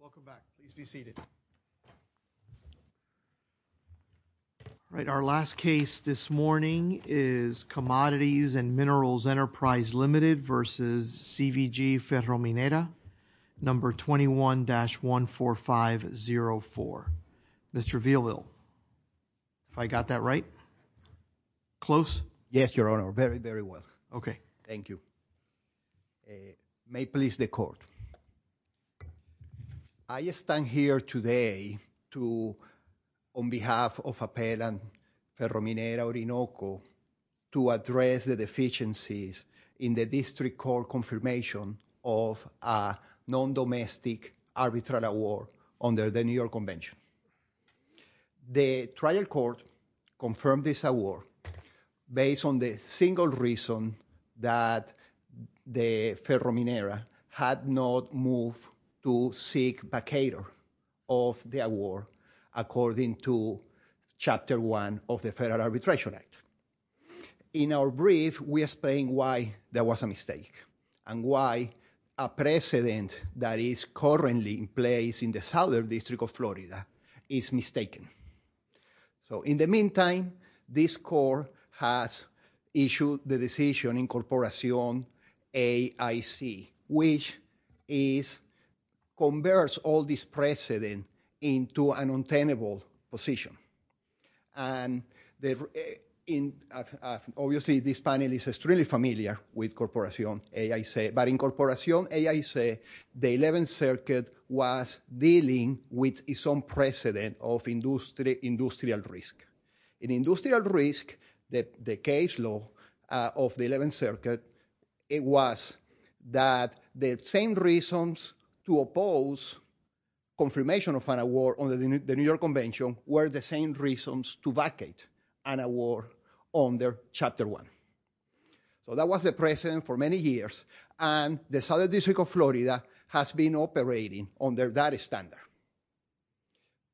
Welcome back. Please be seated. Right. Our last case this morning is Commodities and Minerals Enterprise Limited versus CVG Ferro Minera number 21-14504. Mr. Villaville, if I got that right? Close? Yes, your honor. Very, very well. Okay. Thank you. May please the court. I stand here today to on behalf of Appellant Ferro Minera Orinoco to address the deficiencies in the district court confirmation of a non-domestic arbitral award under the New York based on the single reason that the Ferro Minera had not moved to seek vacator of the award according to Chapter 1 of the Federal Arbitration Act. In our brief, we explain why there was a mistake and why a precedent that is currently in place in the Southern District of Florida is mistaken. So in the meantime, this court has issued the decision incorporation AIC, which is converts all this precedent into an untenable position. And obviously, this panel is really familiar with incorporation AIC, but incorporation AIC, the 11th Circuit was dealing with its own precedent of industrial risk. In industrial risk, the case law of the 11th Circuit, it was that the same reasons to oppose confirmation of an award under the New York Convention were the same reasons to vacate an award under Chapter 1. So that was the precedent for many years, and the Southern District of Florida has been operating under that standard.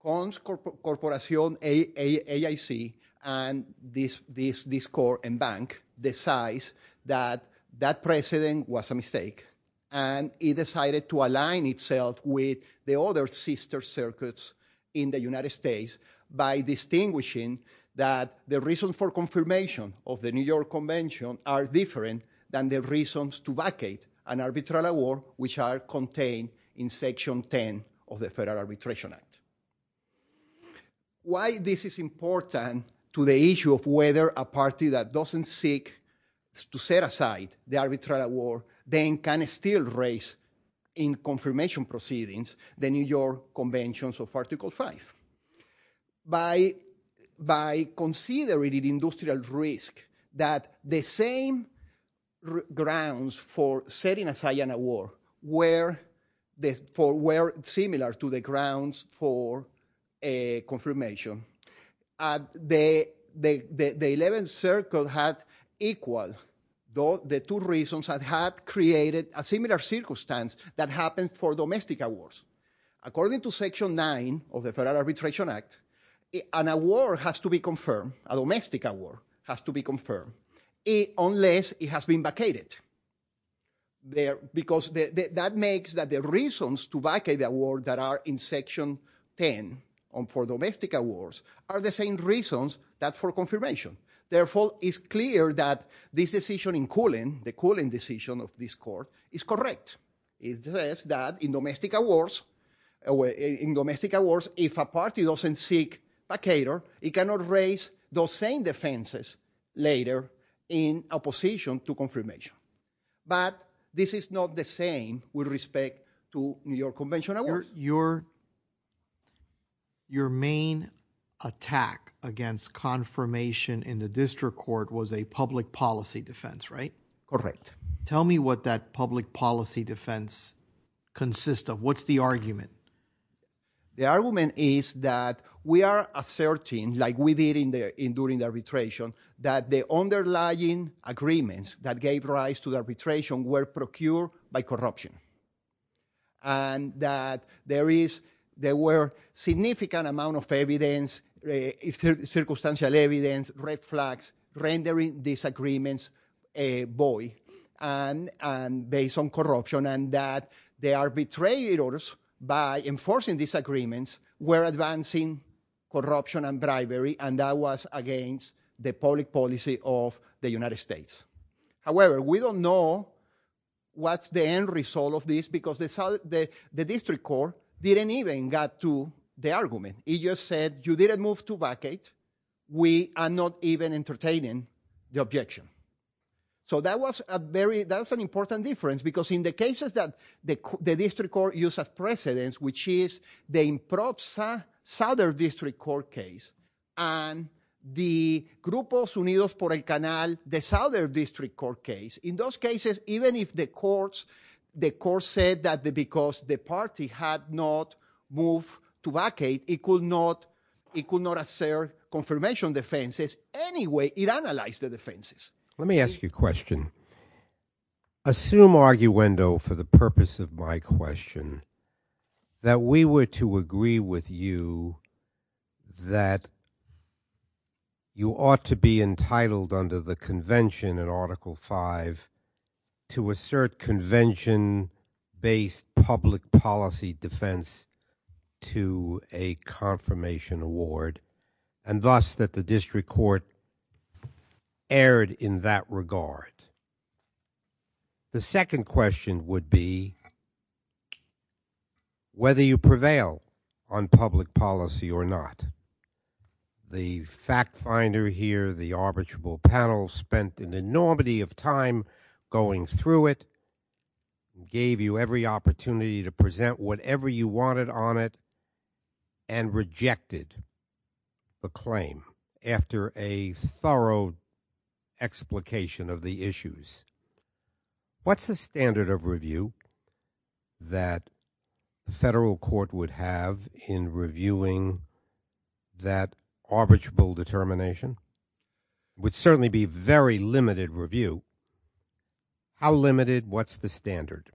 Incorporation AIC and this court and bank decides that that precedent was a mistake, and it decided to align itself with the other sister circuits in the United States by distinguishing that the reason for confirmation of the New York Convention are different than the reasons to vacate an arbitral award, which are contained in Section 10 of the Federal Arbitration Act. Why this is important to the issue of whether a party that doesn't seek to set aside the arbitral award then can still raise in confirmation proceedings the New York Conventions of Article 5. By considering industrial risk that the same grounds for setting aside an award were similar to the grounds for a confirmation, the 11th Circuit had equaled the two reasons that had created a similar circumstance that happened for domestic awards. According to Section 9 of the Federal Arbitration Act, an award has to be confirmed, a domestic award has to be confirmed, unless it has been vacated. Because that makes that the reasons to vacate the award that are in Section 10 for domestic awards are the same reasons that for confirmation. Therefore, it's clear that this decision in cooling, the cooling decision of this court, is correct. It says that in domestic awards, in domestic awards, if a party doesn't seek vacator, it cannot raise those same defenses later in opposition to confirmation. But this is not the same with respect to New York Convention awards. Your main attack against confirmation in the district court was a public policy defense, right? Correct. Tell me what that public policy defense consists of. What's the argument? The argument is that we are asserting, like we did during arbitration, that the underlying agreements that gave rise to the arbitration were procured by corruption. And that there is, there were significant amount of evidence, circumstantial evidence, red flags, rendering these agreements void and based on corruption. And that the arbitrators, by enforcing these agreements, were advancing corruption and bribery. And that was against the public policy of the United States. However, we don't know what's the end result of this because the district court didn't even get to the argument. It just said, you didn't move to vacate. We are not even entertaining the objection. So that was a very, that's an important difference because in the cases that the district court used as precedence, which is the improper Southern District Court case, and the Grupos Unidos por el Canal, the Southern District Court case. In those cases, even if the courts, the courts said that because the party had not moved to vacate, it could not assert confirmation defenses. Anyway, it analyzed the defenses. Let me ask you a question. Assume arguendo, for the purpose of my question, that we were to agree with you that you ought to be entitled under the convention in Article 5 to assert convention-based public policy defense to a confirmation award, and thus that the district court erred in that regard. The second question would be, whether you prevail on public policy or not. The fact finder here, the arbitrable panel, spent an enormity of time going through it, gave you every opportunity to present whatever you wanted on it, and rejected the claim after a thorough explication of the issues. What's the standard of review that the federal court would have in reviewing that arbitrable determination? It would certainly be very limited review. How limited? What's the standard?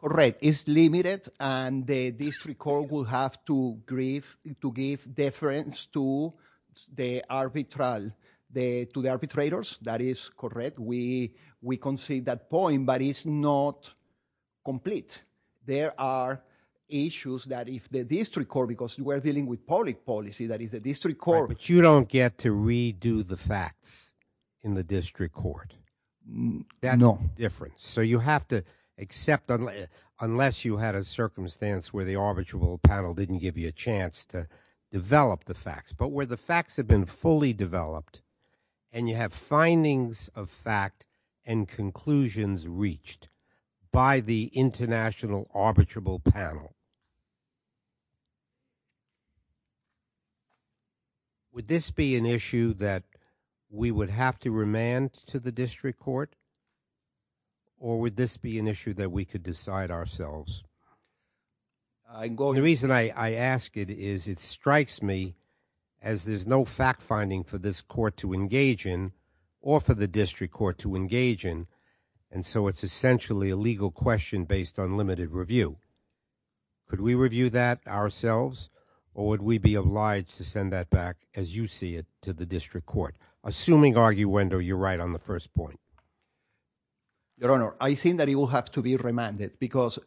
Correct. It's limited, and the district court will have to concede that point, but it's not complete. There are issues that if the district court, because we're dealing with public policy, that is the district court- But you don't get to redo the facts in the district court. No. That's the difference. So you have to accept, unless you had a circumstance where the arbitrable panel didn't give you a chance to develop the facts, but where the facts have been fully developed, and you have findings of fact and conclusions reached by the international arbitrable panel. Would this be an issue that we would have to remand to the district court, or would this be an issue that we could decide ourselves? I'm going- The reason I ask it is it strikes me as there's no fact-finding for this court to engage in, or for the district court to engage in, and so it's essentially a legal question based on limited review. Could we review that ourselves, or would we be obliged to send that back, as you see it, to the district court? Assuming, arguendo, you're right on the first point. Your Honor, I think that it will have to be remanded, because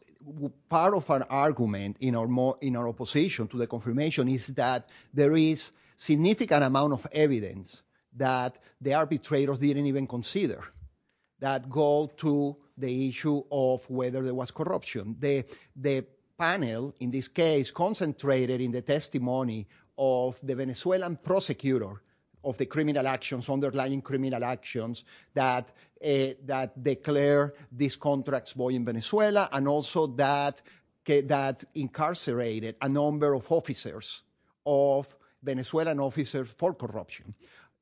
part of an argument in our opposition to the confirmation is that there is significant amount of evidence that the arbitrators didn't even consider that go to the issue of whether there was corruption. The panel, in this case, concentrated in the testimony of the Venezuelan prosecutor of the that declared these contracts boy in Venezuela, and also that incarcerated a number of officers of Venezuelan officers for corruption.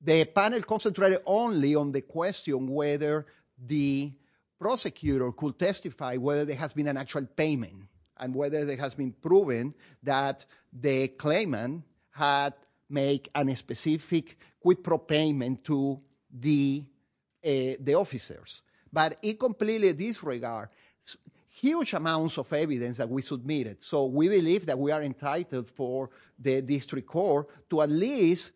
The panel concentrated only on the question whether the prosecutor could testify whether there has been an actual payment, and whether there has been proven that the claimant had made a specific prepayment to the officers, but it completely disregarded huge amounts of evidence that we submitted, so we believe that we are entitled for the district court to at least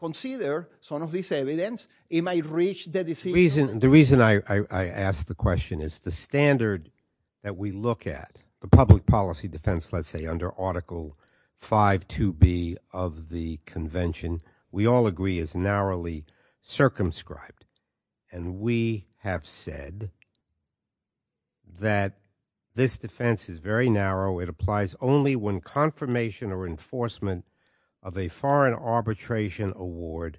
consider some of this evidence. It might reach the decision. The reason I ask the question is the standard that we look at, the public policy defense, let's say under Article 5.2b of the convention, we all agree is narrowly circumscribed, and we have said that this defense is very narrow. It applies only when confirmation or enforcement of a foreign arbitration award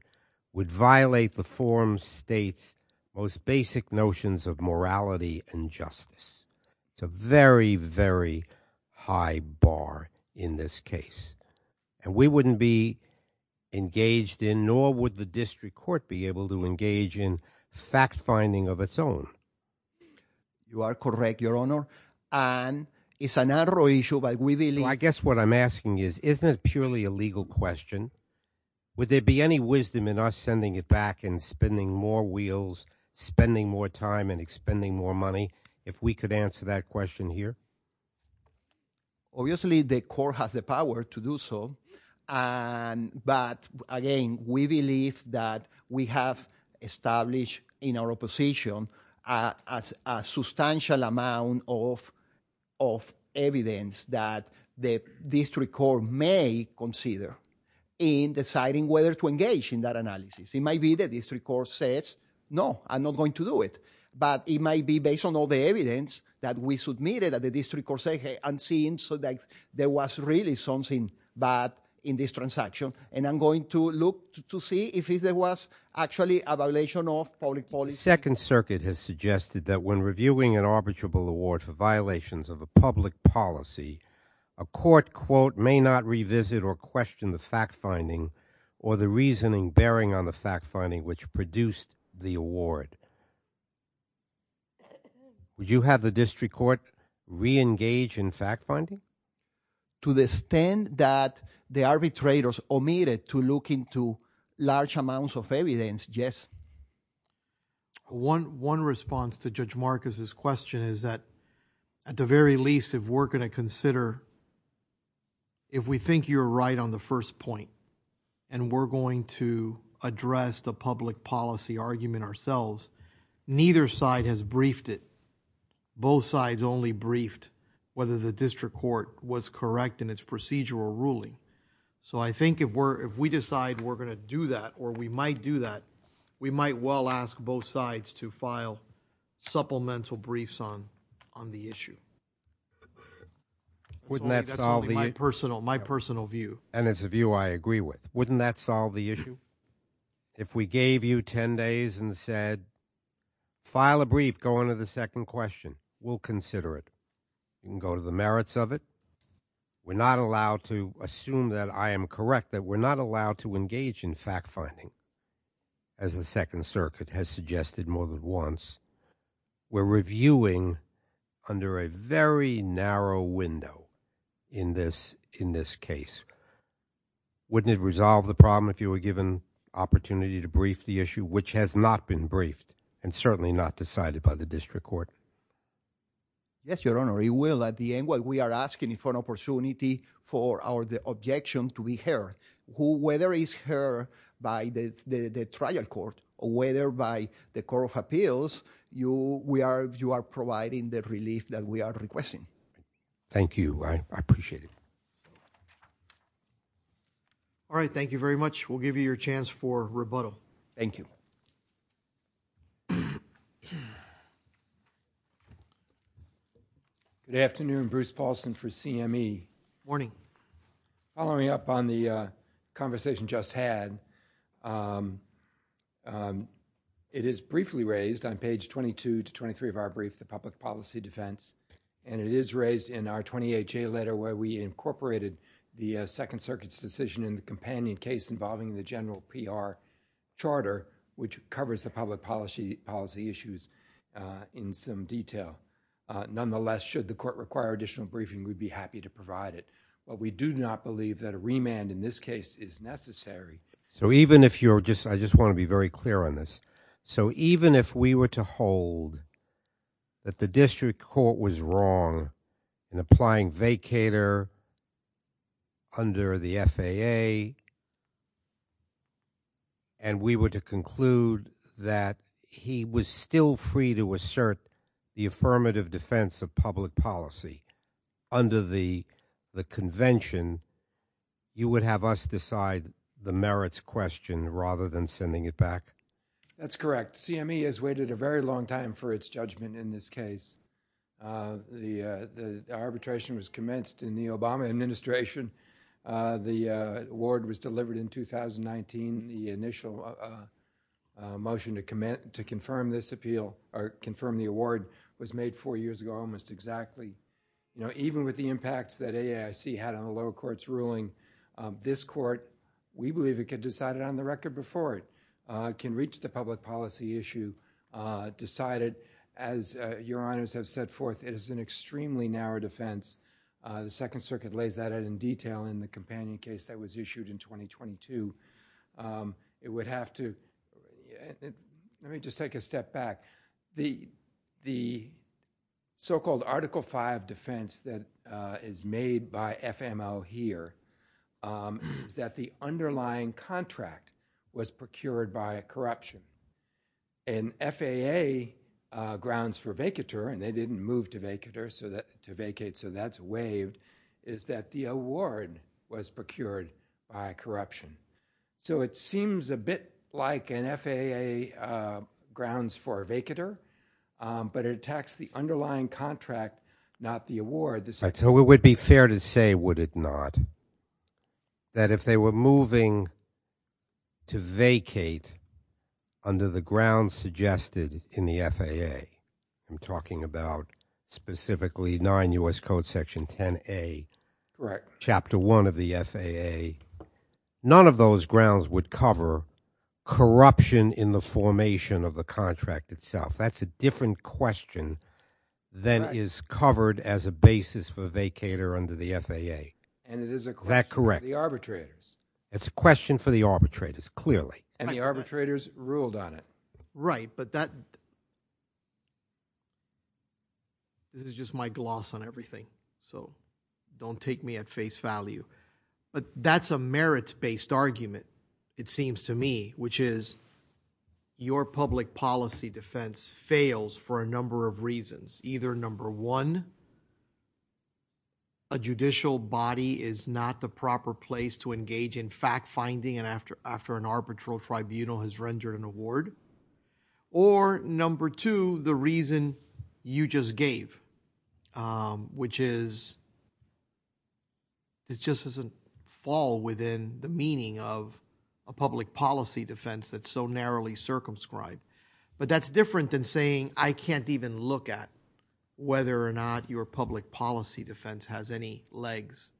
would violate the forum state's most basic notions of morality and justice. It's a very, very high bar in this case, and we wouldn't be engaged in, nor would the district court be able to engage in fact-finding of its own. You are correct, your honor, and it's a narrow issue, but we believe... a legal question. Would there be any wisdom in us sending it back and spending more wheels, spending more time, and expending more money, if we could answer that question here? Obviously, the court has the power to do so, but again, we believe that we have established in our opposition a substantial amount of evidence that the district court may consider in deciding whether to engage in that analysis. It might be that the district court says, no, I'm not going to do it, but it might be based on all the evidence that we submitted that the district court said, hey, I'm seeing that there was really something bad in this public policy... Second Circuit has suggested that when reviewing an arbitrable award for violations of a public policy, a court, quote, may not revisit or question the fact-finding or the reasoning bearing on the fact-finding which produced the award. Would you have the district court re-engage in fact-finding? To the extent that the arbitrators omitted to look into large amounts of evidence, yes. One response to Judge Marcus's question is that, at the very least, if we're going to consider, if we think you're right on the first point and we're going to address the public policy argument ourselves, neither side has briefed it. Both sides only briefed whether the district court was correct in its procedural ruling. So, I think if we decide we're going to do that, or we might do that, we might well ask both sides to file supplemental briefs on the issue. Wouldn't that solve the issue? My personal view. And it's a view I agree with. Wouldn't that solve the issue? If we gave you 10 days and said, file a brief, go on to the second question, we'll consider it. You can go to the merits of it. We're not allowed to assume that I am correct, that we're not allowed to engage in fact-finding, as the Second Circuit has suggested more than once. We're reviewing under a very narrow window in this case. Wouldn't it resolve the problem if you were given opportunity to brief the issue, which has not been briefed and certainly not decided by the district court? Yes, Your Honor, it will. At the end, we are asking for an opportunity for our objection to be heard. Whether it's heard by the trial court or whether by the Court of Appeals, you are providing the relief that we are requesting. Thank you. I appreciate it. All right. Thank you very much. We'll give you your chance for rebuttal. Thank you. Good afternoon. Bruce Paulson for CME. Morning. Following up on the conversation just had, it is briefly raised on page 22 to 23 of our brief, the public policy defense, and it is raised in our 28-J letter where we incorporated the Second Circuit's decision in the companion case involving the general PR charter, which covers the public policy issues in some detail. Nonetheless, should the court require additional briefing, we'd be happy to provide it, but we do not believe that a remand in this case is necessary. I just want to be very clear on this. Even if we were to hold that the district court was wrong in applying vacator under the FAA and we were to conclude that he was still free to assert the affirmative defense of public policy under the convention, you would have us decide the merits question rather than sending it back? That's correct. CME has waited a very long time for its judgment in this case. The arbitration was commenced in the Obama administration. The award was delivered in 2019. The initial motion to confirm this appeal or confirm the award was made four years ago almost exactly. Even with the impacts that AAIC had on the lower court's ruling, this court, we believe it could decide it on the record before it reached the public policy issue, decided, as your honors have set forth, it is an extremely narrow defense. The Second Circuit lays that out in detail in the companion case that was issued in 2022. Let me just take a step back. The so-called Article V defense that is made by FMO here is that the underlying contract was procured by a corruption. FAA grounds for vacator, and they didn't move to vacate, so that's waived, is that the award was procured by corruption. It seems a bit like an FAA grounds for vacator, but it attacks the underlying contract, not the contract, that if they were moving to vacate under the grounds suggested in the FAA, I'm talking about specifically 9 U.S. Code Section 10A, Chapter 1 of the FAA, none of those grounds would cover corruption in the formation of the contract itself. That's a different question than is covered as a basis for vacator under the FAA. And it is a question for the arbitrators. It's a question for the arbitrators, clearly. And the arbitrators ruled on it. Right, but this is just my gloss on everything, so don't take me at face value, but that's a merits-based argument, it seems to me, which is your public policy defense fails for a number of reasons. Either number one, a judicial body is not the proper place to engage in fact-finding, and after an arbitral tribunal has rendered an award, or number two, the reason you just gave, which is, it just doesn't fall within the meaning of a public policy defense that's so narrowly circumscribed. But that's different than saying, I can't even look at whether or not your public policy defense has any legs.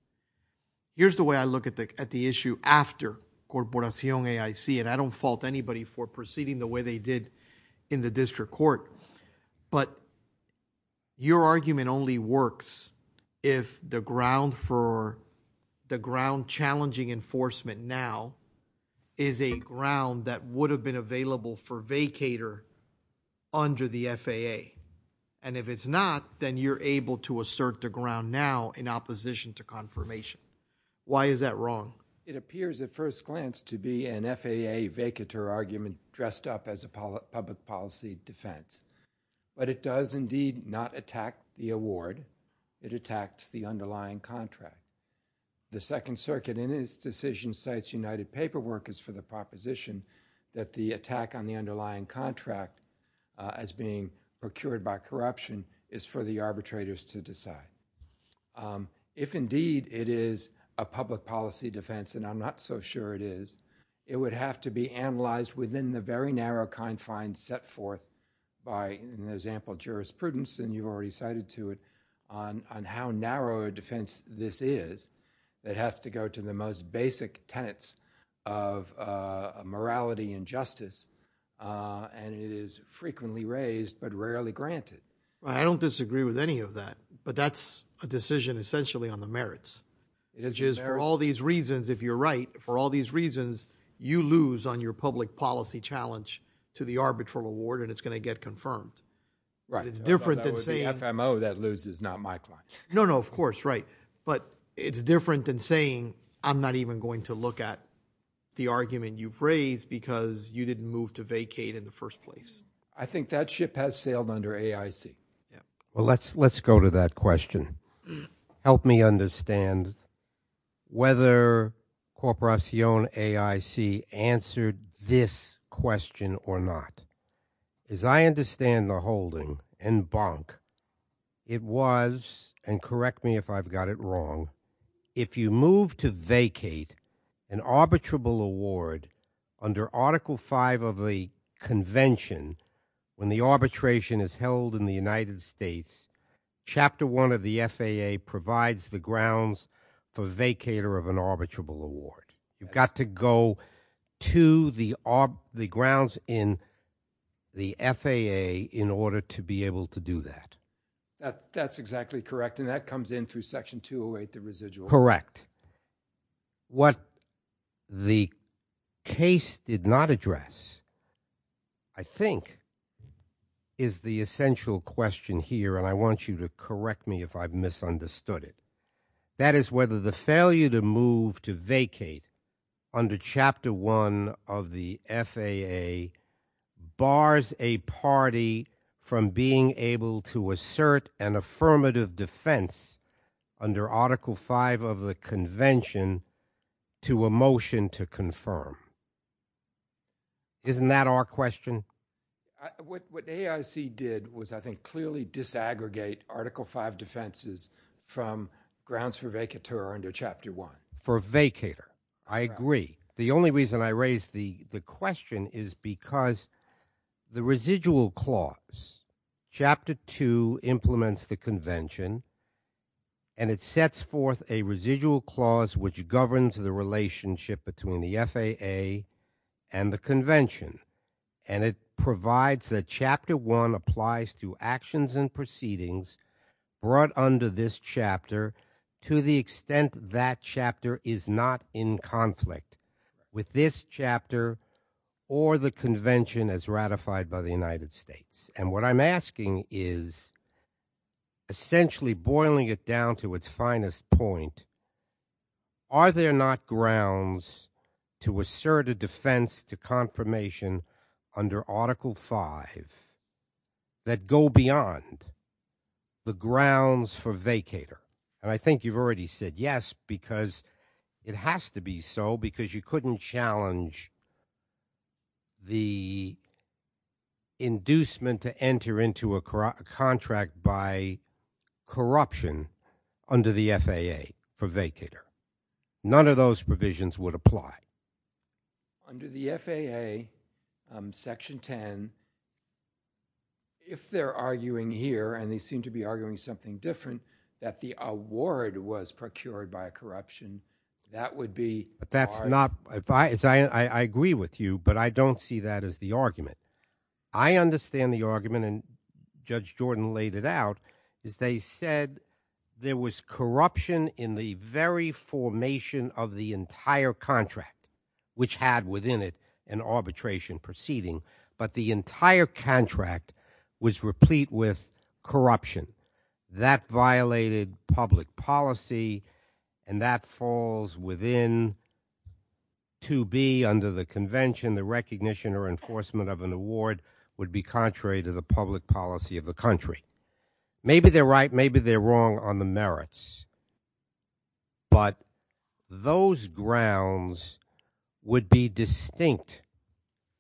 Here's the way I look at the issue after Corporación AIC, and I don't fault anybody for proceeding the way they did in the district court, but your argument only works if the ground for, the ground challenging enforcement now is a ground that would have been available for vacator under the FAA, and if it's not, then you're able to assert the ground now in opposition to confirmation. Why is that wrong? It appears at first glance to be an FAA vacator argument dressed up as a public policy defense, but it does indeed not attack the award, it attacks the underlying contract. The Second Circuit, in its decision, cites United Paperwork as for the proposition that the attack on the underlying contract as being procured by corruption is for the arbitrators to decide. If indeed it is a public policy defense, and I'm not so sure it is, it would have to be analyzed within the very narrow confines set forth by, in the example of jurisprudence, and you've already cited to it, on how narrow a defense this is that have to go to the most uh, and it is frequently raised, but rarely granted. I don't disagree with any of that, but that's a decision essentially on the merits, which is for all these reasons, if you're right, for all these reasons, you lose on your public policy challenge to the arbitral award, and it's going to get confirmed. Right. It's different than saying... The FMO that loses, not my client. No, no, of course, right, but it's different than saying, I'm not even going to look at the argument you've raised because you didn't move to vacate in the first place. I think that ship has sailed under AIC. Yeah. Well, let's, let's go to that question. Help me understand whether Corporacion AIC answered this question or not. As I understand the holding, en banc, it was, and correct me if I've got it wrong, if you move to vacate an arbitrable award under article five of the convention, when the arbitration is held in the United States, chapter one of the FAA provides the grounds for vacater of an arbitrable award. You've got to go to the, the grounds in the FAA in order to be able to do that. That's exactly correct. And that comes in through section 208, the residual. Correct. What the case did not address, I think, is the essential question here. And I want you to correct me if I've misunderstood it. That is whether the failure to move to vacate under chapter one of the FAA bars a party from being able to assert an affirmative defense under article five of the convention to a motion to confirm. Isn't that our question? What AIC did was, I think, clearly disaggregate article five defenses from grounds for vacater under chapter one. For vacater. I agree. The only reason I raised the question is because the residual clause, chapter two implements the convention and it sets forth a residual clause which governs the relationship between the FAA and the convention. And it provides that chapter one applies to actions and proceedings brought under this chapter to the extent that chapter is not in conflict with this chapter or the convention as ratified by the United States. And what I'm asking is essentially boiling it down to its finest point. Are there not grounds to assert a defense to confirmation under article five that go beyond the grounds for vacater? And I think you've already said yes because it has to be so because you couldn't challenge the inducement to enter into a contract by corruption under the FAA for vacater. None of those provisions would apply. Under the FAA, section 10, if they're arguing here, and they seem to be arguing something different, that the award was procured by a corruption, that would be- But that's not- I agree with you, but I don't see that as the argument. I understand the argument, and Judge Jordan laid it out, is they said there was corruption in the very formation of the entire contract. Which had within it an arbitration proceeding. But the entire contract was replete with corruption. That violated public policy, and that falls within to be under the convention, the recognition or enforcement of an award would be contrary to the public policy of the country. Maybe they're right, maybe they're wrong on the merits. But those grounds would be distinct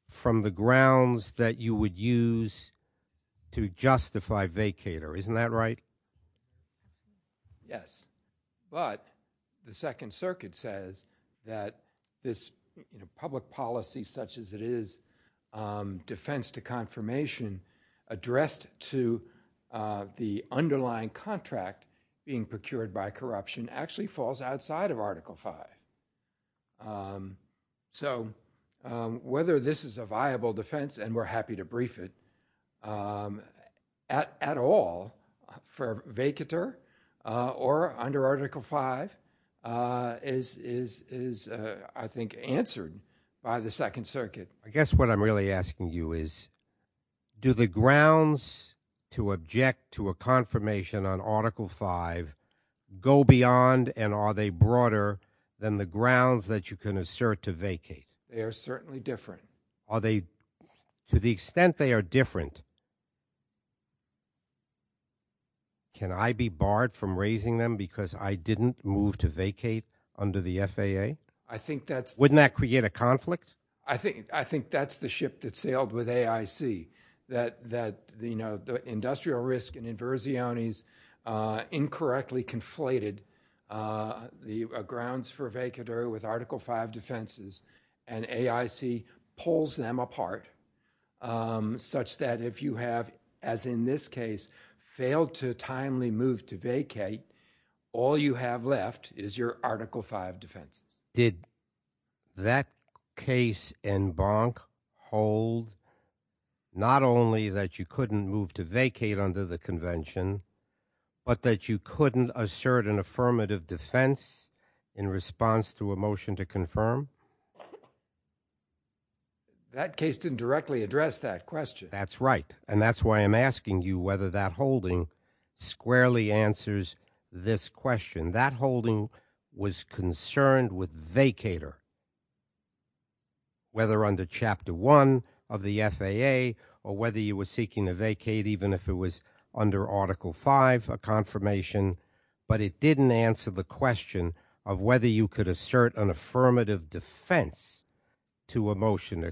from the grounds that you would use to justify vacater. Isn't that right? Yes, but the Second Circuit says that this public policy such as it is, defense to confirmation, addressed to the underlying contract being procured by corruption, actually falls outside of Article V. So, whether this is a viable defense, and we're happy to brief it, at all, for vacater or under Article V, is, I think, answered by the Second Circuit. I guess what I'm really asking you is, do the grounds to object to a confirmation on Article V go beyond, and are they broader than the grounds that you can assert to vacate? They are certainly different. Are they, to the extent they are different, can I be barred from raising them because I didn't move to vacate under the FAA? I think that's- Wouldn't that create a conflict? I think that's the ship that sailed with AIC, that the industrial risk and inversiones incorrectly conflated the grounds for vacater with Article V defenses, and AIC pulls them apart, such that if you have, as in this case, failed to timely move to vacate, all you have left is your Article V defenses. Did that case in Bonk hold, not only that you couldn't move to vacate under the convention, but that you couldn't assert an affirmative defense in response to a motion to confirm? That case didn't directly address that question. That's right, and that's why I'm asking you whether that holding squarely answers this question. That holding was concerned with vacater, whether under Chapter 1 of the FAA or whether you were seeking to vacate, even if it was under Article V, a confirmation, but it didn't answer the question of whether you could assert an affirmative defense to a motion.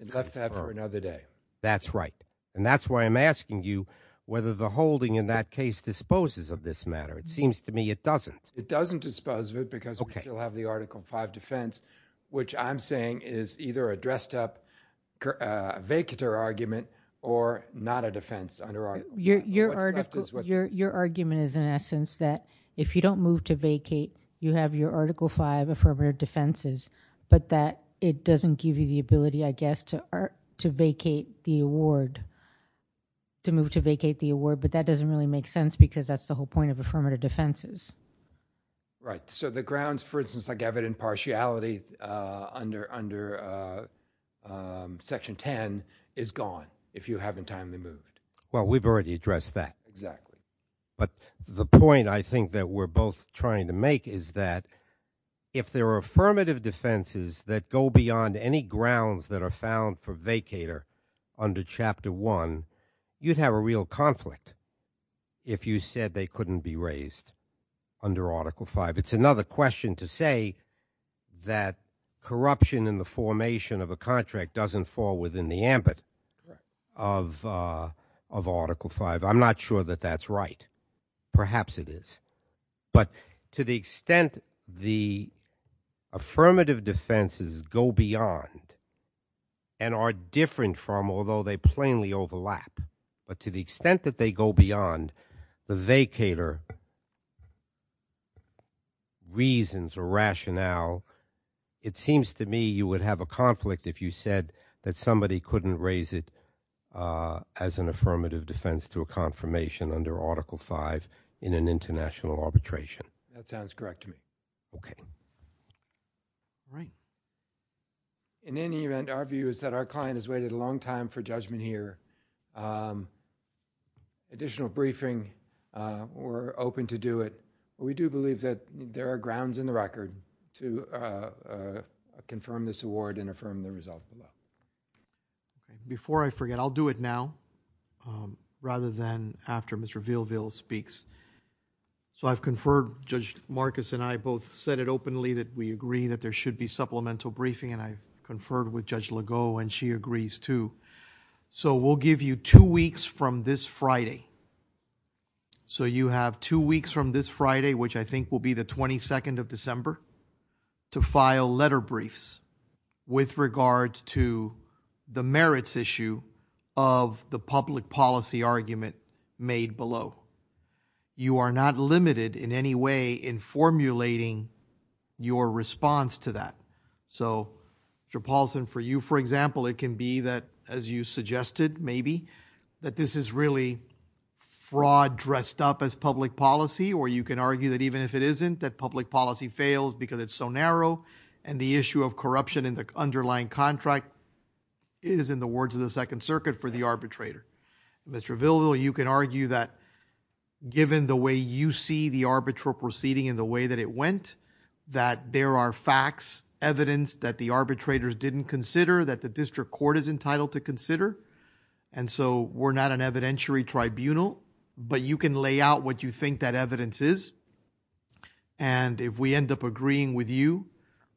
And left that for another day. That's right, and that's why I'm asking you whether the holding in that case disposes of this matter. It seems to me it doesn't. It doesn't dispose of it because we still have the Article V defense, which I'm saying is either a dressed up vacater argument or not a defense. Your argument is, in essence, that if you don't move to vacate, you have your Article V affirmative defenses, but that it doesn't give you the ability, I guess, to vacate the award, to move to vacate the award, but that doesn't really make sense because that's the whole point of affirmative defenses. Right, so the grounds, for instance, like evident partiality under Section 10 is gone if you haven't timely moved. Well, we've already addressed that. Exactly. But the point I think that we're both trying to make is that if there are affirmative defenses that go beyond any grounds that are found for vacater under Chapter 1, you'd have a real conflict if you said they couldn't be raised under Article V. It's another question to say that corruption in the formation of a contract doesn't fall within the ambit of Article V. I'm not sure that that's right. Perhaps it is, but to the extent the affirmative defenses go beyond and are different from, although they plainly overlap, but to the extent that they go beyond the vacater reasons or rationale, it seems to me you would have a conflict if you said that somebody couldn't raise it as an affirmative defense to a confirmation under Article V in an international arbitration. That sounds correct to me. Okay. All right. In any event, our view is that our client has waited a long time for judgment here. Additional briefing, we're open to do it. We do believe that there are grounds in the record to confirm this award and affirm the result below. Before I forget, I'll do it now rather than after Mr. Villeville speaks. So, I've conferred, Judge Marcus and I both said it openly that we agree that there should be supplemental briefing and I conferred with Judge Legault and she agrees too. So, we'll give you two weeks from this Friday. So, you have two weeks from this Friday, which I think will be the 22nd of December, to file letter briefs with regards to the merits issue of the public policy argument made below. You are not limited in any way in formulating your response to that. So, Mr. Paulson, for you, for example, it can be that as you suggested maybe that this is really fraud dressed up as public policy or you can argue that even if it isn't that public policy fails because it's so narrow and the issue of corruption in the underlying contract is in the words of the Second Circuit for the arbitrator. Mr. Villeville, you can argue that given the way you see the arbitral proceeding and the way that it went that there are facts, evidence that the arbitrators didn't consider that the district court is entitled to consider and so we're not an evidentiary tribunal, but you can lay out what you think that evidence is and if we end up agreeing with you,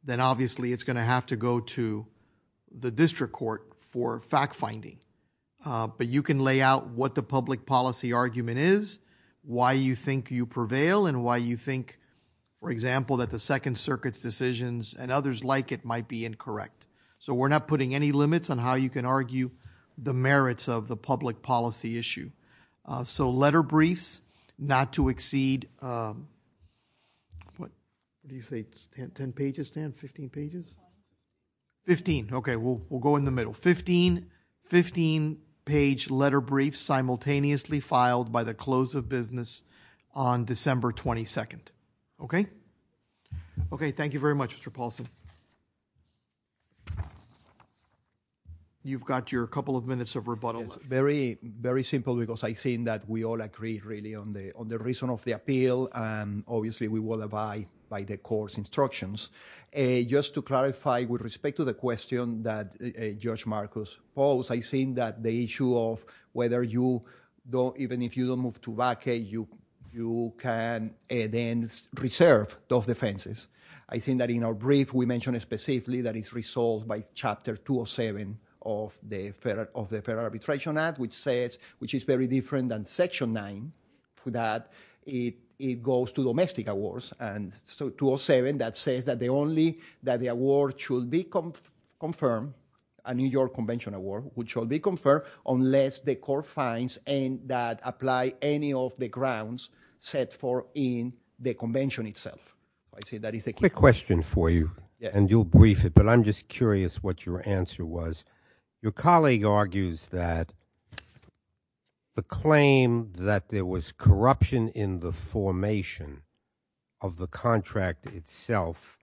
then obviously it's going to have to go to the district court for fact finding, but you can lay out what the public policy argument is, why you think you prevail and why you think, for example, that the Second Circuit's decisions and others like it might be incorrect. So, we're not putting any limits on how you can argue the merits of the public policy issue. So, letter briefs not to exceed, what do you say, 10 pages, Stan? 15 pages? 15. Okay, we'll go in the middle. 15 page letter briefs simultaneously filed by the close of business on December 22nd. Okay? Okay, thank you very much, Mr. Paulson. You've got your couple of minutes of rebuttal. Very simple because I think that we all agree really on the reason of the appeal and obviously we will abide by the court's instructions. Just to clarify with respect to the question that Judge Marcos posed, I think that the issue of whether you don't, even if you don't move to vacate, you can then reserve those defenses. I think that in our brief, we mentioned specifically that it's resolved by Chapter 207 of the Fair Arbitration Act, which says, which is very different than Section 9, that it goes to domestic awards. And so, 207, that says that the only, that the award should be confirmed, a New York Convention award, which should be confirmed unless the court finds and that apply any of the grounds set for in the convention itself. Quick question for you and you'll brief it, but I'm just curious what your answer was. Your colleague argues that the claim that there was corruption in the formation of the contract itself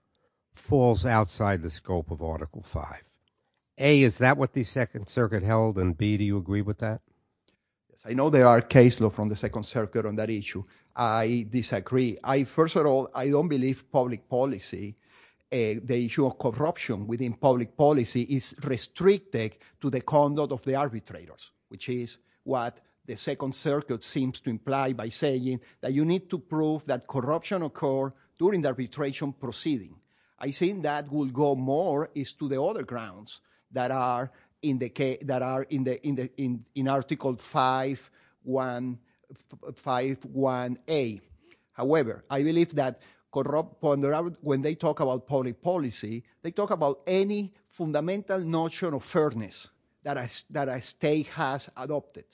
falls outside the scope of Article V. A, is that what the Second Circuit held? And B, do you agree with that? I know there are cases from the Second Circuit on that issue. I disagree. First of all, I don't believe public policy, the issue of corruption within public policy is restricted to the conduct of the arbitrators, which is what the Second Circuit seems to imply by saying that you need to prove that corruption occurred during the arbitration proceeding. I think that will go more is to the other grounds that are in the case, that are in Article V. A. However, I believe that when they talk about public policy, they talk about any fundamental notion of fairness that a state has adopted,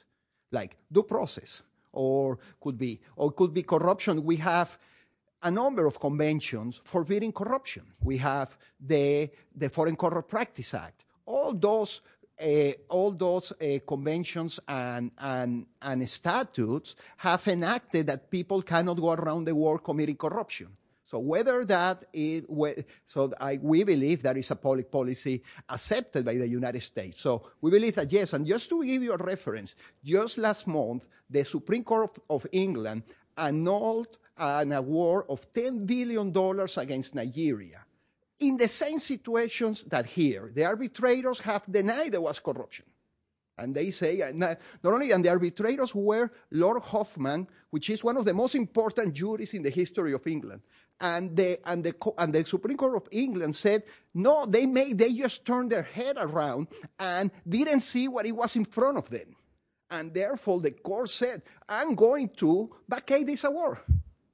like due process or could be corruption. We have a number of conventions forbidding corruption. We have the Foreign Practice Act. All those conventions and statutes have enacted that people cannot go around the world committing corruption. We believe that is a public policy accepted by the United States. We believe that, yes, and just to give you a reference, just last month, the Supreme Court of England annulled an award of $10 billion against Nigeria in the same situations that here. The arbitrators have denied there was corruption. They say, not only, and the arbitrators were Lord Hoffman, which is one of the most important juries in the history of England, and the Supreme Court of England said, no, they just turned their head around and didn't see what to vacate this award.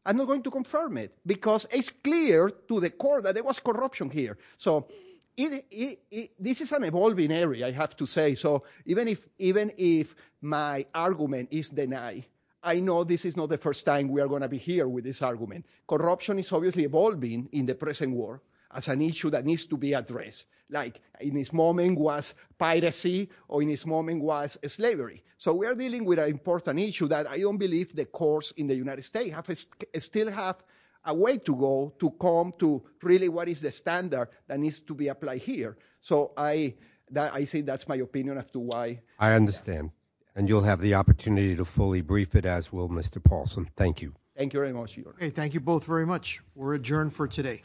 I'm not going to confirm it, because it's clear to the court that there was corruption here. This is an evolving area, I have to say. Even if my argument is denied, I know this is not the first time we are going to be here with this argument. Corruption is obviously evolving in the present world as an issue that needs to be addressed, like in this moment was piracy or in this moment was slavery. We are dealing with an issue that I don't believe the courts in the United States still have a way to go to come to really what is the standard that needs to be applied here. So I say that's my opinion as to why. I understand, and you'll have the opportunity to fully brief it as well, Mr. Paulson. Thank you. Thank you very much, Your Honor. Thank you both very much. We're adjourned for today.